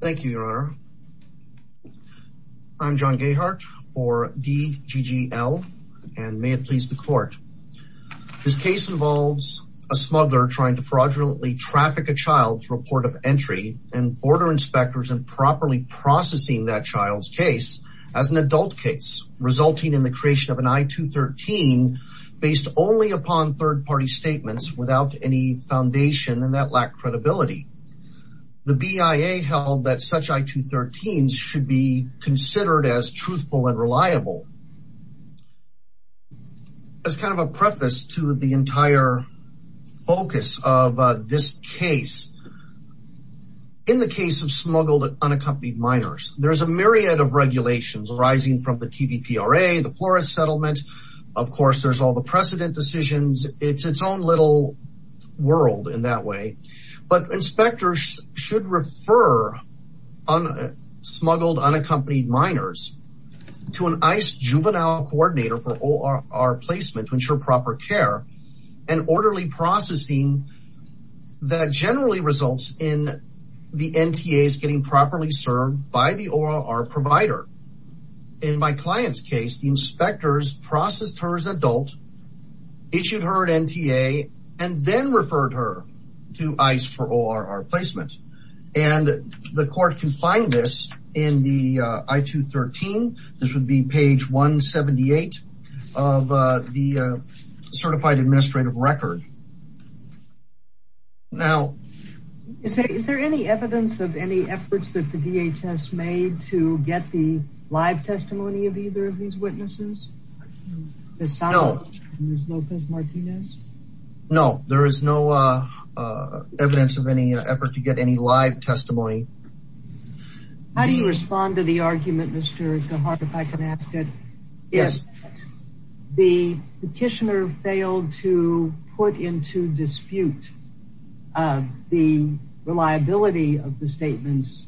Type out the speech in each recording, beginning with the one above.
Thank you, Your Honor. I'm John Gayhart for D.G.G.L. and may it please the court. This case involves a smuggler trying to fraudulently traffic a child's report of entry and border inspectors improperly processing that child's case as an adult case, resulting in the creation of an I-213 based only upon third party statements without any foundation and that lacked credibility. The BIA held that such I-213s should be considered as truthful and reliable. As kind of a preface to the entire focus of this case, in the case of smuggled unaccompanied minors, there is a myriad of regulations arising from the TVPRA, the Flores Settlement. Of course, there's all the precedent decisions. It's its own little world in that way. But inspectors should refer smuggled unaccompanied minors to an ICE Juvenile Coordinator for OR placement to ensure proper care and orderly processing that generally results in the NTAs getting properly served by the OR provider. In my client's case, the inspectors processed her as adult, issued her an NTA, and then referred her to ICE for OR placement. And the court can find this in the I-213. This would be page 178 of the Certified Administrative Record. Now... Is there any evidence of any efforts that the DHS made to get the live testimony of either of these witnesses? No. Ms. Lopez Martinez? No, there is no evidence of any effort to get any live testimony. How do you respond to the argument, Mr. Gujarat, if I can ask it? Yes. The petitioner failed to put into dispute the reliability of the statements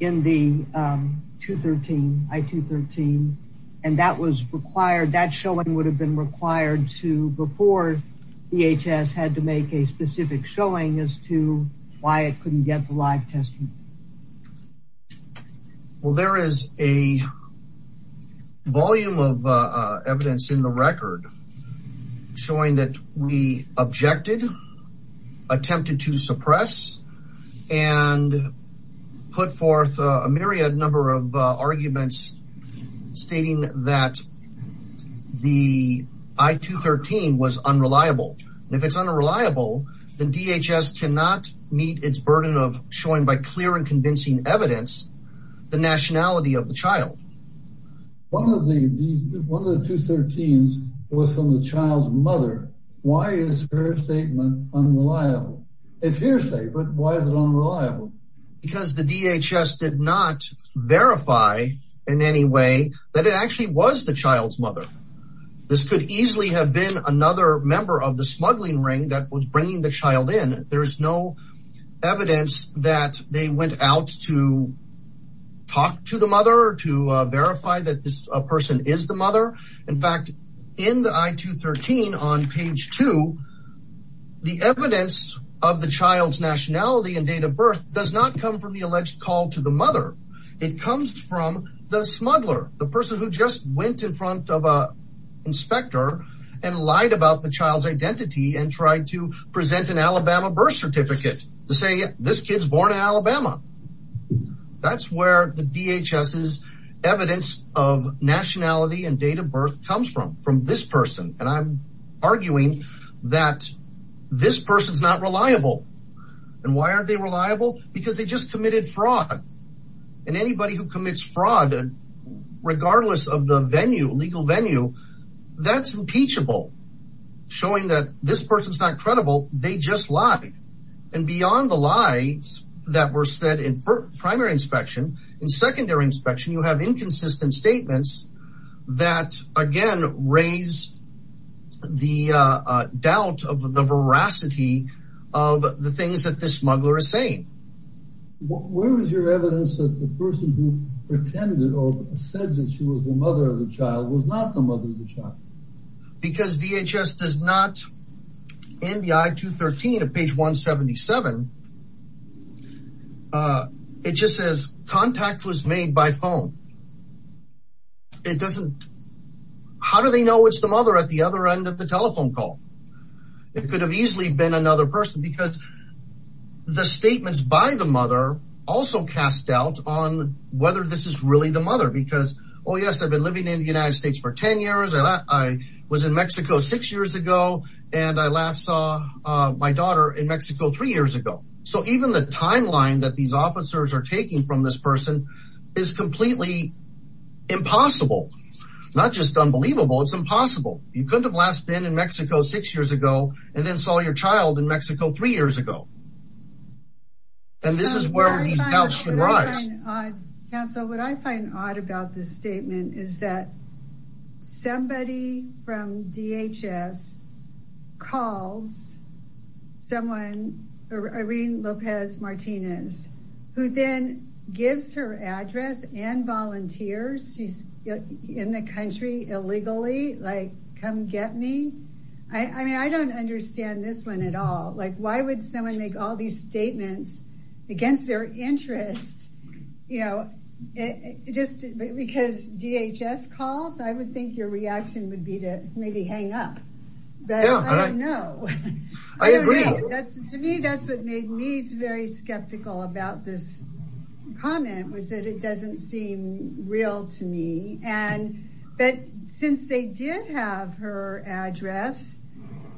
in the I-213, and that showing would have been required before DHS had to make a specific showing as to why it couldn't get the live testimony. Well, there is a volume of evidence in the record showing that we objected, attempted to suppress, and put forth a myriad number of arguments stating that the I-213 was unreliable. And if it's unreliable, then DHS cannot meet its burden of showing by clear and convincing evidence the nationality of the child. One of the I-213s was from the child's mother. Why is her statement unreliable? It's hearsay, but why is it unreliable? Because the DHS did not verify in any way that it actually was the child's mother. This could easily have been another member of the smuggling ring that was bringing the child in. There is no evidence that they went out to talk to the mother or to verify that this person is the mother. In fact, in the I-213 on page 2, the evidence of the child's nationality and date of birth does not come from the alleged call to the mother. It comes from the smuggler, the person who just went in front of an inspector and lied about the child's identity and tried to present an Alabama birth certificate to say this kid's born in Alabama. That's where the DHS' evidence of nationality and date of birth comes from, from this person. And I'm arguing that this person's not reliable. And why aren't they reliable? Because they just committed fraud. And anybody who commits fraud, regardless of the venue, legal venue, that's impeachable, showing that this person's not credible. They just lied. And beyond the lies that were said in primary inspection, in secondary inspection, you have inconsistent statements that, again, raise the doubt of the veracity of the things that this smuggler is saying. Where was your evidence that the person who pretended or said that she was the mother of the child was not the mother of the child? Because DHS does not, in the I-213 of page 177, it just says, contact was made by phone. It doesn't, how do they know it's the mother at the other end of the telephone call? It could have easily been another person because the statements by the mother also cast doubt on whether this is really the mother. Because, oh, yes, I've been living in the United States for 10 years. I was in Mexico six years ago. And I last saw my daughter in Mexico three years ago. So even the timeline that these officers are taking from this person is completely impossible. Not just unbelievable, it's impossible. You couldn't have last been in Mexico six years ago and then saw your child in Mexico three years ago. And this is where the doubt should rise. Council, what I find odd about this statement is that somebody from DHS calls someone, Irene Lopez Martinez, who then gives her address and volunteers. She's in the country illegally, like, come get me. I mean, I don't understand this one at all. Like, why would someone make all these statements against their interest? You know, just because DHS calls, I would think your reaction would be to maybe hang up. But I don't know. I agree. To me, that's what made me very skeptical about this comment was that it doesn't seem real to me. But since they did have her address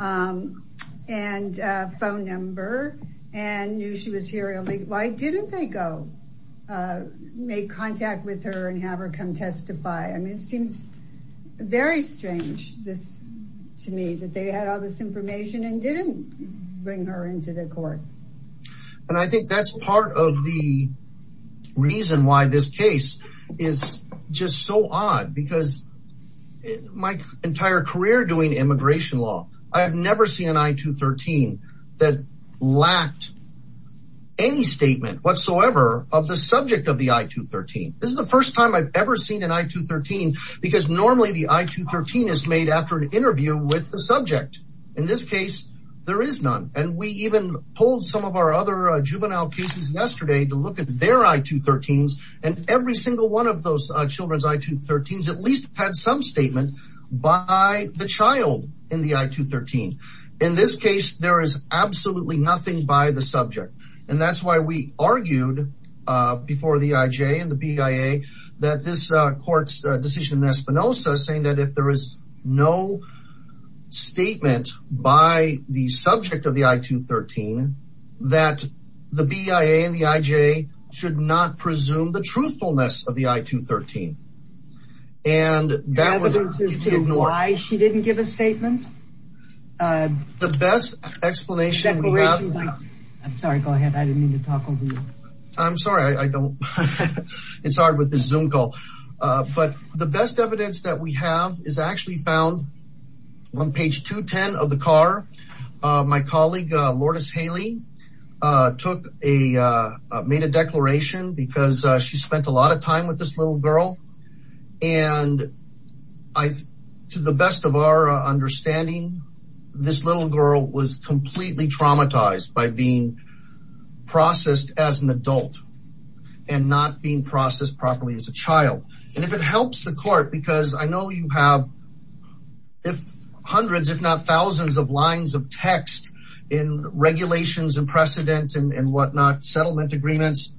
and phone number and knew she was here illegally, why didn't they go make contact with her and have her come testify? I mean, it seems very strange to me that they had all this information and didn't bring her into the court. And I think that's part of the reason why this case is just so odd because my entire career doing immigration law, I have never seen an I-213 that lacked any statement whatsoever of the subject of the I-213. This is the first time I've ever seen an I-213 because normally the I-213 is made after an interview with the subject. In this case, there is none. And we even pulled some of our other juvenile cases yesterday to look at their I-213s, and every single one of those children's I-213s has at least had some statement by the child in the I-213. In this case, there is absolutely nothing by the subject. And that's why we argued before the IJ and the BIA that this court's decision in Espinosa saying that if there is no statement by the subject of the I-213, that the BIA and the IJ should not presume the truthfulness of the I-213. And that was ignored. Why she didn't give a statement? The best explanation we have... I'm sorry. Go ahead. I didn't mean to talk over you. I'm sorry. I don't... It's hard with this Zoom call. But the best evidence that we have is actually found on page 210 of the car. My colleague, Lourdes Haley, took a... made a declaration because she spent a lot of time with this little girl. And to the best of our understanding, this little girl was completely traumatized by being processed as an adult and not being processed properly as a child. And if it helps the court, because I know you have hundreds, if not thousands, of lines of text in regulations and precedent and whatnot, settlement agreements,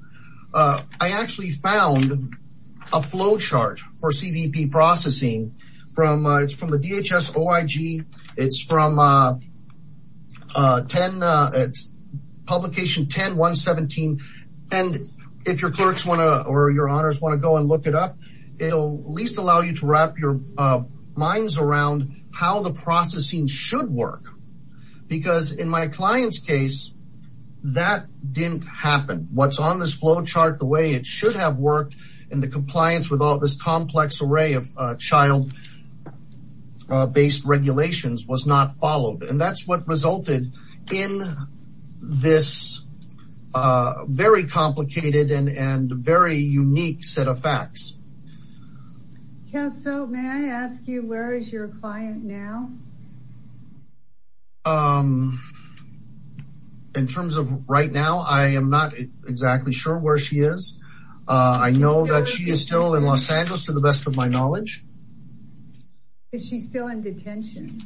I actually found a flow chart for CVP processing. It's from a DHS OIG. It's from publication 10-117. And if your clerks want to or your honors want to go and look it up, it'll at least allow you to wrap your minds around how the processing should work. Because in my client's case, that didn't happen. What's on this flow chart, the way it should have worked, and the compliance with all this complex array of child-based regulations was not followed. And that's what resulted in this very complicated and very unique set of facts. Counsel, may I ask you, where is your client now? In terms of right now, I am not exactly sure where she is. I know that she is still in Los Angeles, to the best of my knowledge. Is she still in detention?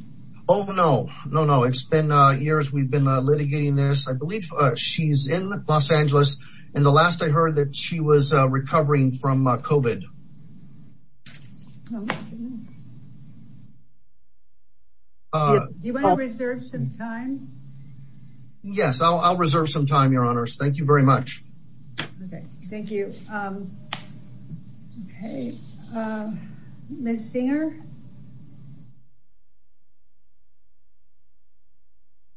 Oh, no, no, no. It's been years we've been litigating this. I believe she's in Los Angeles. And the last I heard that she was recovering from COVID. Do you want to reserve some time? Yes, I'll reserve some time, your honors. Thank you very much. Okay, thank you. Okay, Ms. Singer?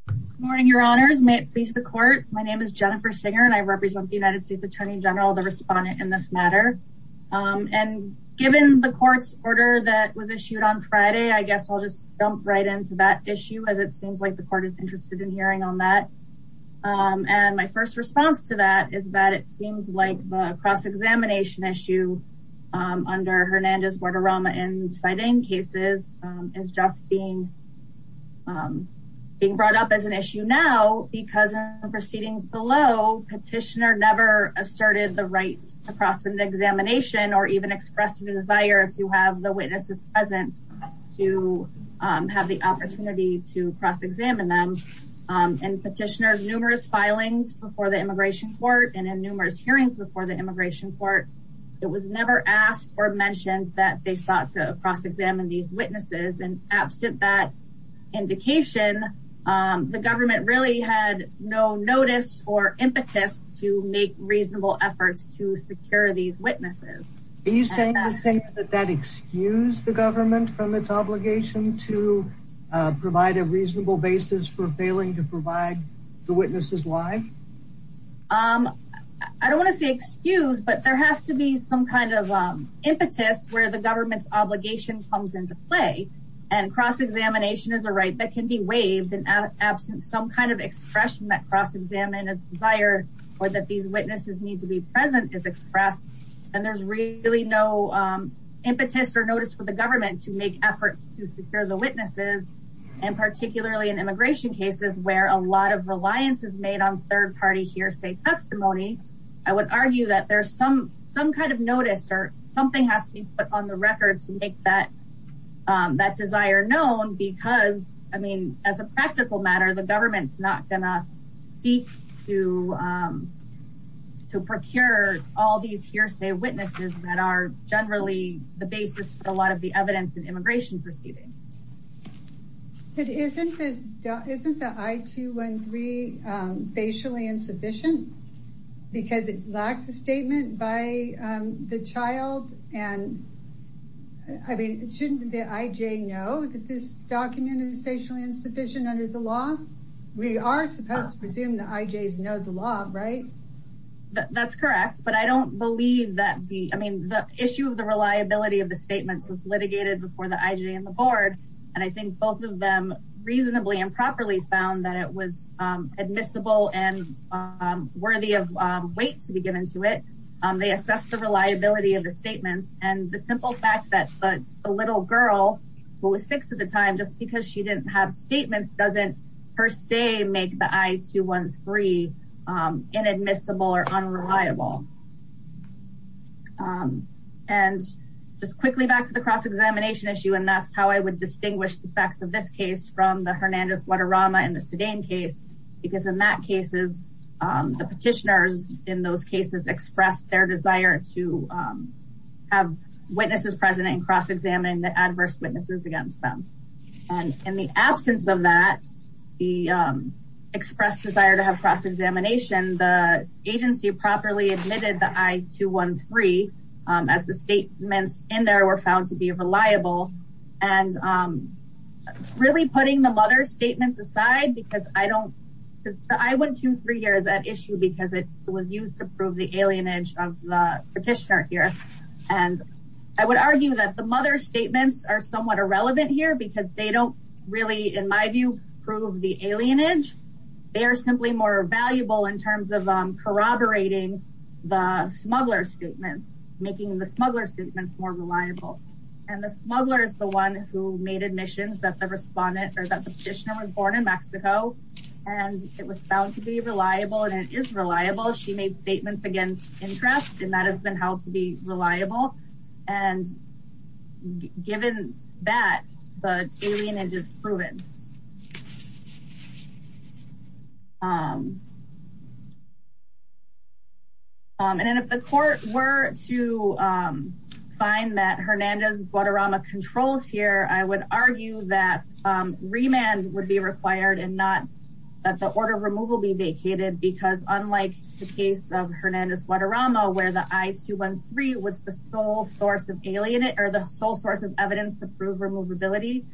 Good morning, your honors. May it please the court. My name is Jennifer Singer, and I represent the United States Attorney General, the respondent in this matter. And given the court's order that was issued on Friday, I guess I'll just jump right into that issue, as it seems like the court is interested in hearing on that. And my first response to that is that it seems like the cross-examination issue under Hernandez, Guadarrama, and Zidane cases is just being brought up as an issue now, because in the proceedings below, petitioner never asserted the right to cross-examination, or even expressed a desire to have the witnesses present to have the opportunity to cross-examine them. And petitioners, numerous filings before the immigration court, and in numerous hearings before the immigration court, it was never asked or mentioned that they sought to cross-examine these witnesses. And absent that indication, the government really had no notice or impetus to make reasonable efforts to secure these witnesses. Are you saying that that excused the government from its obligation to provide a reasonable basis for failing to provide the witnesses live? I don't want to say excuse, but there has to be some kind of impetus where the government's obligation comes into play and cross-examination is a right that can be waived in absence, some kind of expression that cross-examine is desired or that these witnesses need to be present is expressed. And there's really no impetus or notice for the government to make efforts to secure the witnesses. And particularly in immigration cases where a lot of reliance is made on third-party hearsay testimony, I would argue that there's some kind of notice or something has to be put on the record to make that desire known because, I mean, as a practical matter, the government's not going to seek to, to procure all these hearsay witnesses that are generally the basis for a lot of the evidence in immigration proceedings. Isn't this, isn't the I-213 facially insufficient? Because it lacks a statement by the child. And I mean, shouldn't the IJ know that this document is facially insufficient under the law? We are supposed to presume the IJs know the law, right? That's correct. But I don't believe that the, I mean, the issue of the reliability of the statements was litigated before the IJ and the board. And I think both of them reasonably and properly found that it was admissible and worthy of weight to be given to it. They assessed the reliability of the statements and the simple fact that the little girl who was six at the time, just because she didn't have statements, doesn't per se make the I-213 inadmissible or unreliable. And just quickly back to the cross-examination issue. And that's how I would distinguish the facts of this case from the Hernandez Guadarrama and the Sedane case, because in that cases, the petitioners in those cases expressed their desire to have witnesses present and cross-examine the adverse witnesses against them. And in the absence of that, the expressed desire to have cross-examination, the agency properly admitted the I-213 as the statements in there were found to be reliable and really putting the mother's statements aside because I don't, the I-123 here is at issue because it was used to prove the alienage of the petitioner here. And I would argue that the mother's statements are somewhat irrelevant here because they don't really, in my view, prove the alienage. They are simply more valuable in terms of corroborating the smuggler's statements, making the smuggler's statements more reliable. And the smuggler is the one who made admissions that the respondent or that the petitioner was born in Mexico and it was found to be reliable and it is reliable. She made statements against interest and that has been held to be reliable. And given that, the alienage is proven. And if the court were to find that Hernandez-Guadarrama controls here, I would argue that remand would be required and not that the order of removal be vacated because unlike the case of Hernandez-Guadarrama where the I-213 was the sole source of evidence to prove removability,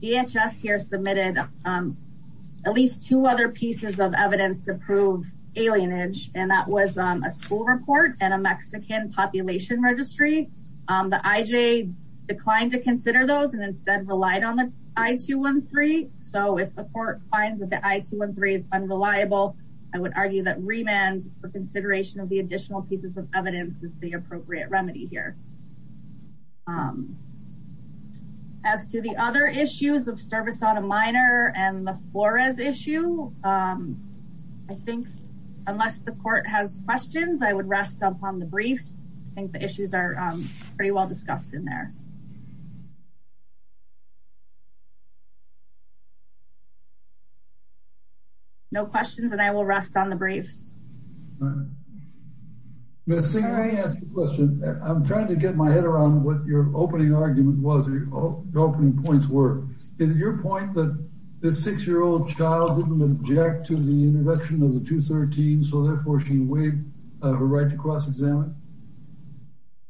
DHS here submitted at least two other pieces of evidence to prove alienage and that was a school report and a Mexican population registry. The IJ declined to consider those and instead relied on the I-213. So if the court finds that the I-213 is unreliable, I would argue that remand for consideration of the additional pieces of evidence is the appropriate remedy here. As to the other issues of service on a minor and the Flores issue, I think unless the court has questions, I would rest upon the briefs. I think the issues are pretty well discussed in there. No questions and I will rest on the briefs. Ms. Singer, I have a question. I'm trying to get my head around what your opening argument was, your opening points were. Is it your point that the six-year-old child didn't object to the introduction of the I-213 so therefore she waived her right to cross-examine?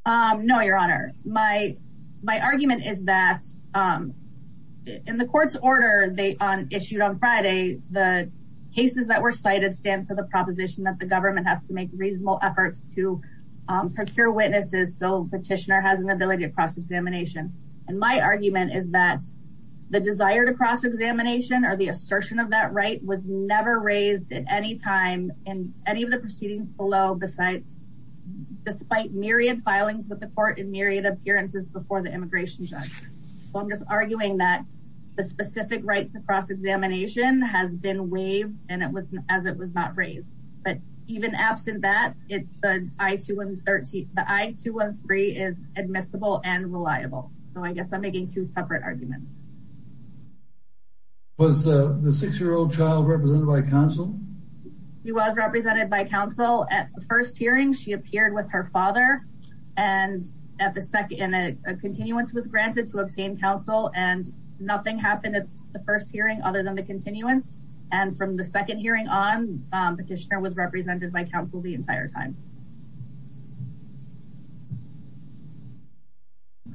No, Your Honor. My argument is that in the court's order issued on Friday, the cases that were cited stand for the proposition that the government has to make reasonable efforts to procure witnesses so petitioner has an ability to cross-examination. And my argument is that the desire to cross-examination or the assertion of that right was never raised at any time in any of the proceedings below despite myriad filings with the court and myriad appearances before the immigration judge. I'm just arguing that the specific right to cross-examination has been waived and as it was not raised. But even absent that, the I-213 is admissible and reliable. So I guess I'm making two separate arguments. Was the six-year-old child represented by counsel? She was represented by counsel. At the first hearing, she appeared with her father. And a continuance was granted to obtain counsel. And nothing happened at the first hearing other than the continuance. And from the second hearing on, petitioner was represented by counsel the entire time.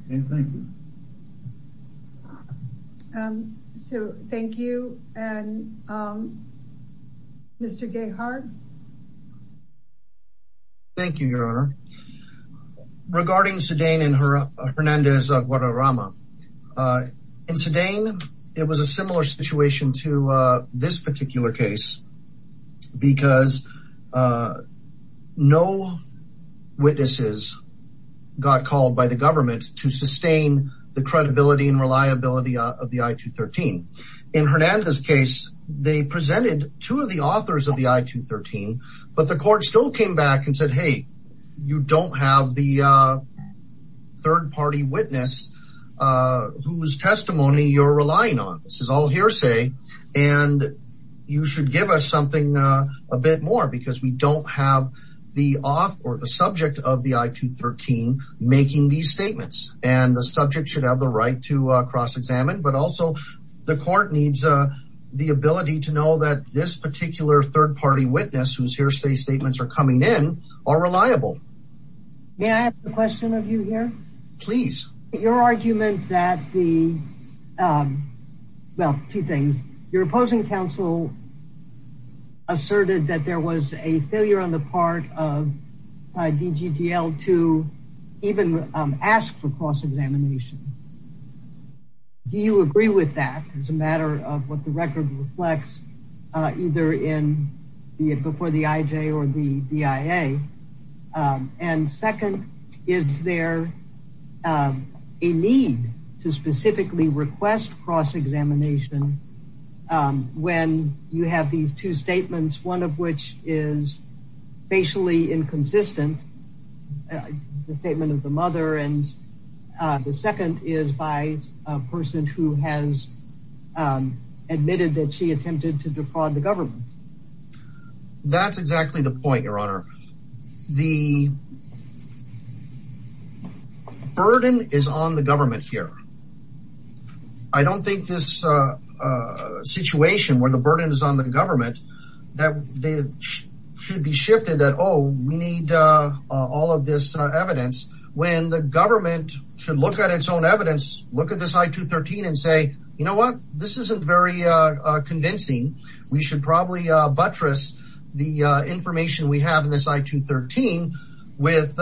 Okay, thank you. So thank you. And Mr. Gahard? Thank you, Your Honor. Regarding Sedain and Hernandez of Guadalrama, in Sedain it was a similar situation to this particular case because no witnesses got called by the government to sustain the credibility and reliability of the I-213. In Hernandez' case, they presented two of the authors of the I-213, but the court still came back and said, hey, you don't have the third-party witness whose testimony you're relying on. This is all hearsay. And you should give us something a bit more because we don't have the author or the subject of the I-213 making these statements. And the subject should have the right to cross-examine. But also the court needs the ability to know that this particular third-party witness whose hearsay statements are coming in are reliable. May I ask a question of you here? Please. Your argument that the, well, two things. Your opposing counsel asserted that there was a failure on the part of DGDL to even ask for cross-examination. Do you agree with that as a matter of what the record reflects, either before the IJ or the DIA? And second, is there a need to specifically request cross-examination when you have these two statements, one of which is facially inconsistent, the statement of the mother, and the second is by a person who has admitted that she attempted to defraud the government? That's exactly the point, Your Honor. The burden is on the government here. I don't think this situation where the burden is on the government, that they should be shifted at, oh, we need all of this evidence. When the government should look at its own evidence, look at this I-213 and say, you know what? This isn't very convincing. We should probably buttress the information we have in this I-213 with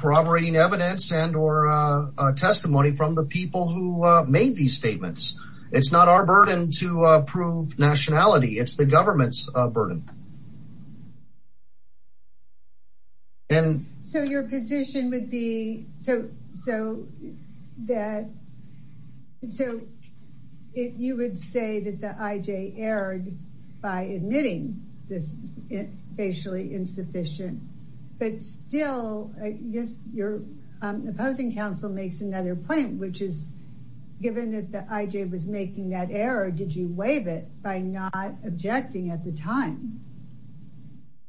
corroborating evidence and or testimony from the people who made these statements. It's not our burden to prove nationality. It's the government's burden. So your position would be, so you would say that the IJ erred by admitting this facially insufficient, but still, I guess your opposing counsel makes another point, which is given that the IJ was making that error, did you waive it by not objecting at the time?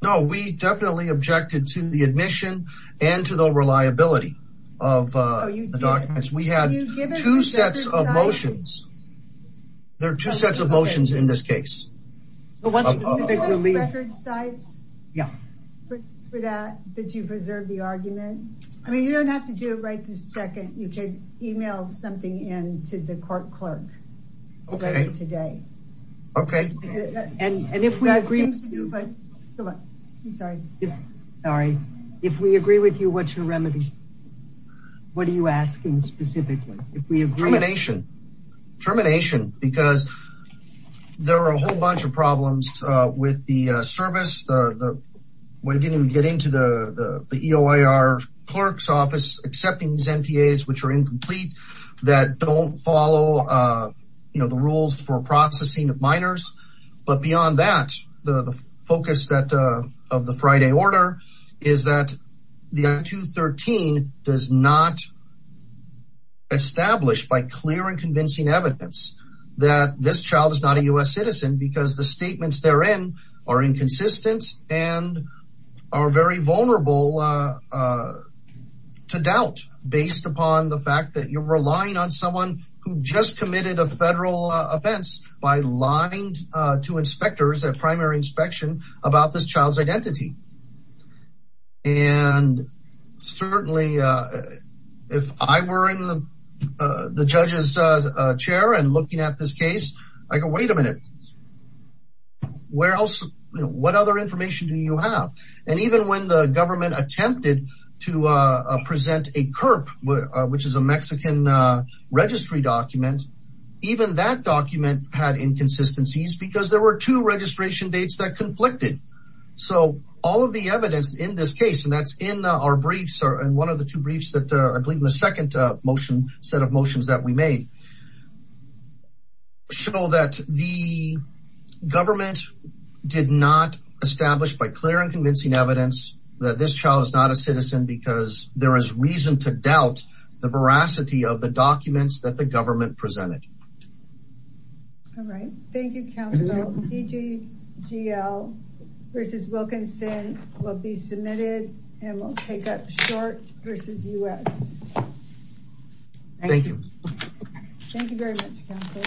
No, we definitely objected to the admission and to the reliability of the documents. We had two sets of motions. There are two sets of motions in this case. Do you have record sites for that that you preserve the argument? I mean, you don't have to do it right this second. You can email something in to the court clerk later today. Okay. And if we agree with you, what's your remedy? What are you asking specifically? Termination. Termination. Because there are a whole bunch of problems with the service. When we get into the EOIR clerk's office, accepting these NTAs, which are incomplete, that don't follow the rules for processing of minors. But beyond that, the focus of the Friday order is that the I213 does not establish, by clear and convincing evidence, that this child is not a U.S. citizen, because the statements therein are inconsistent and are very vulnerable to doubt, based upon the fact that you're relying on someone who just committed a federal offense by lying to inspectors at primary inspection about this child's identity. And certainly, if I were in the judge's chair and looking at this case, I'd go, wait a minute. What other information do you have? And even when the government attempted to present a CURP, which is a Mexican registry document, even that document had inconsistencies, because there were two registration dates that conflicted. So all of the evidence in this case, and that's in our briefs, and one of the two briefs that I believe in the second motion, set of motions that we made, show that the government did not establish, by clear and convincing evidence, that this child is not a citizen, because there is reason to doubt the veracity of the documents that the government presented. All right. Thank you, counsel. DGGL versus Wilkinson will be submitted, and we'll take up short versus U.S. Thank you. Thank you very much, counsel.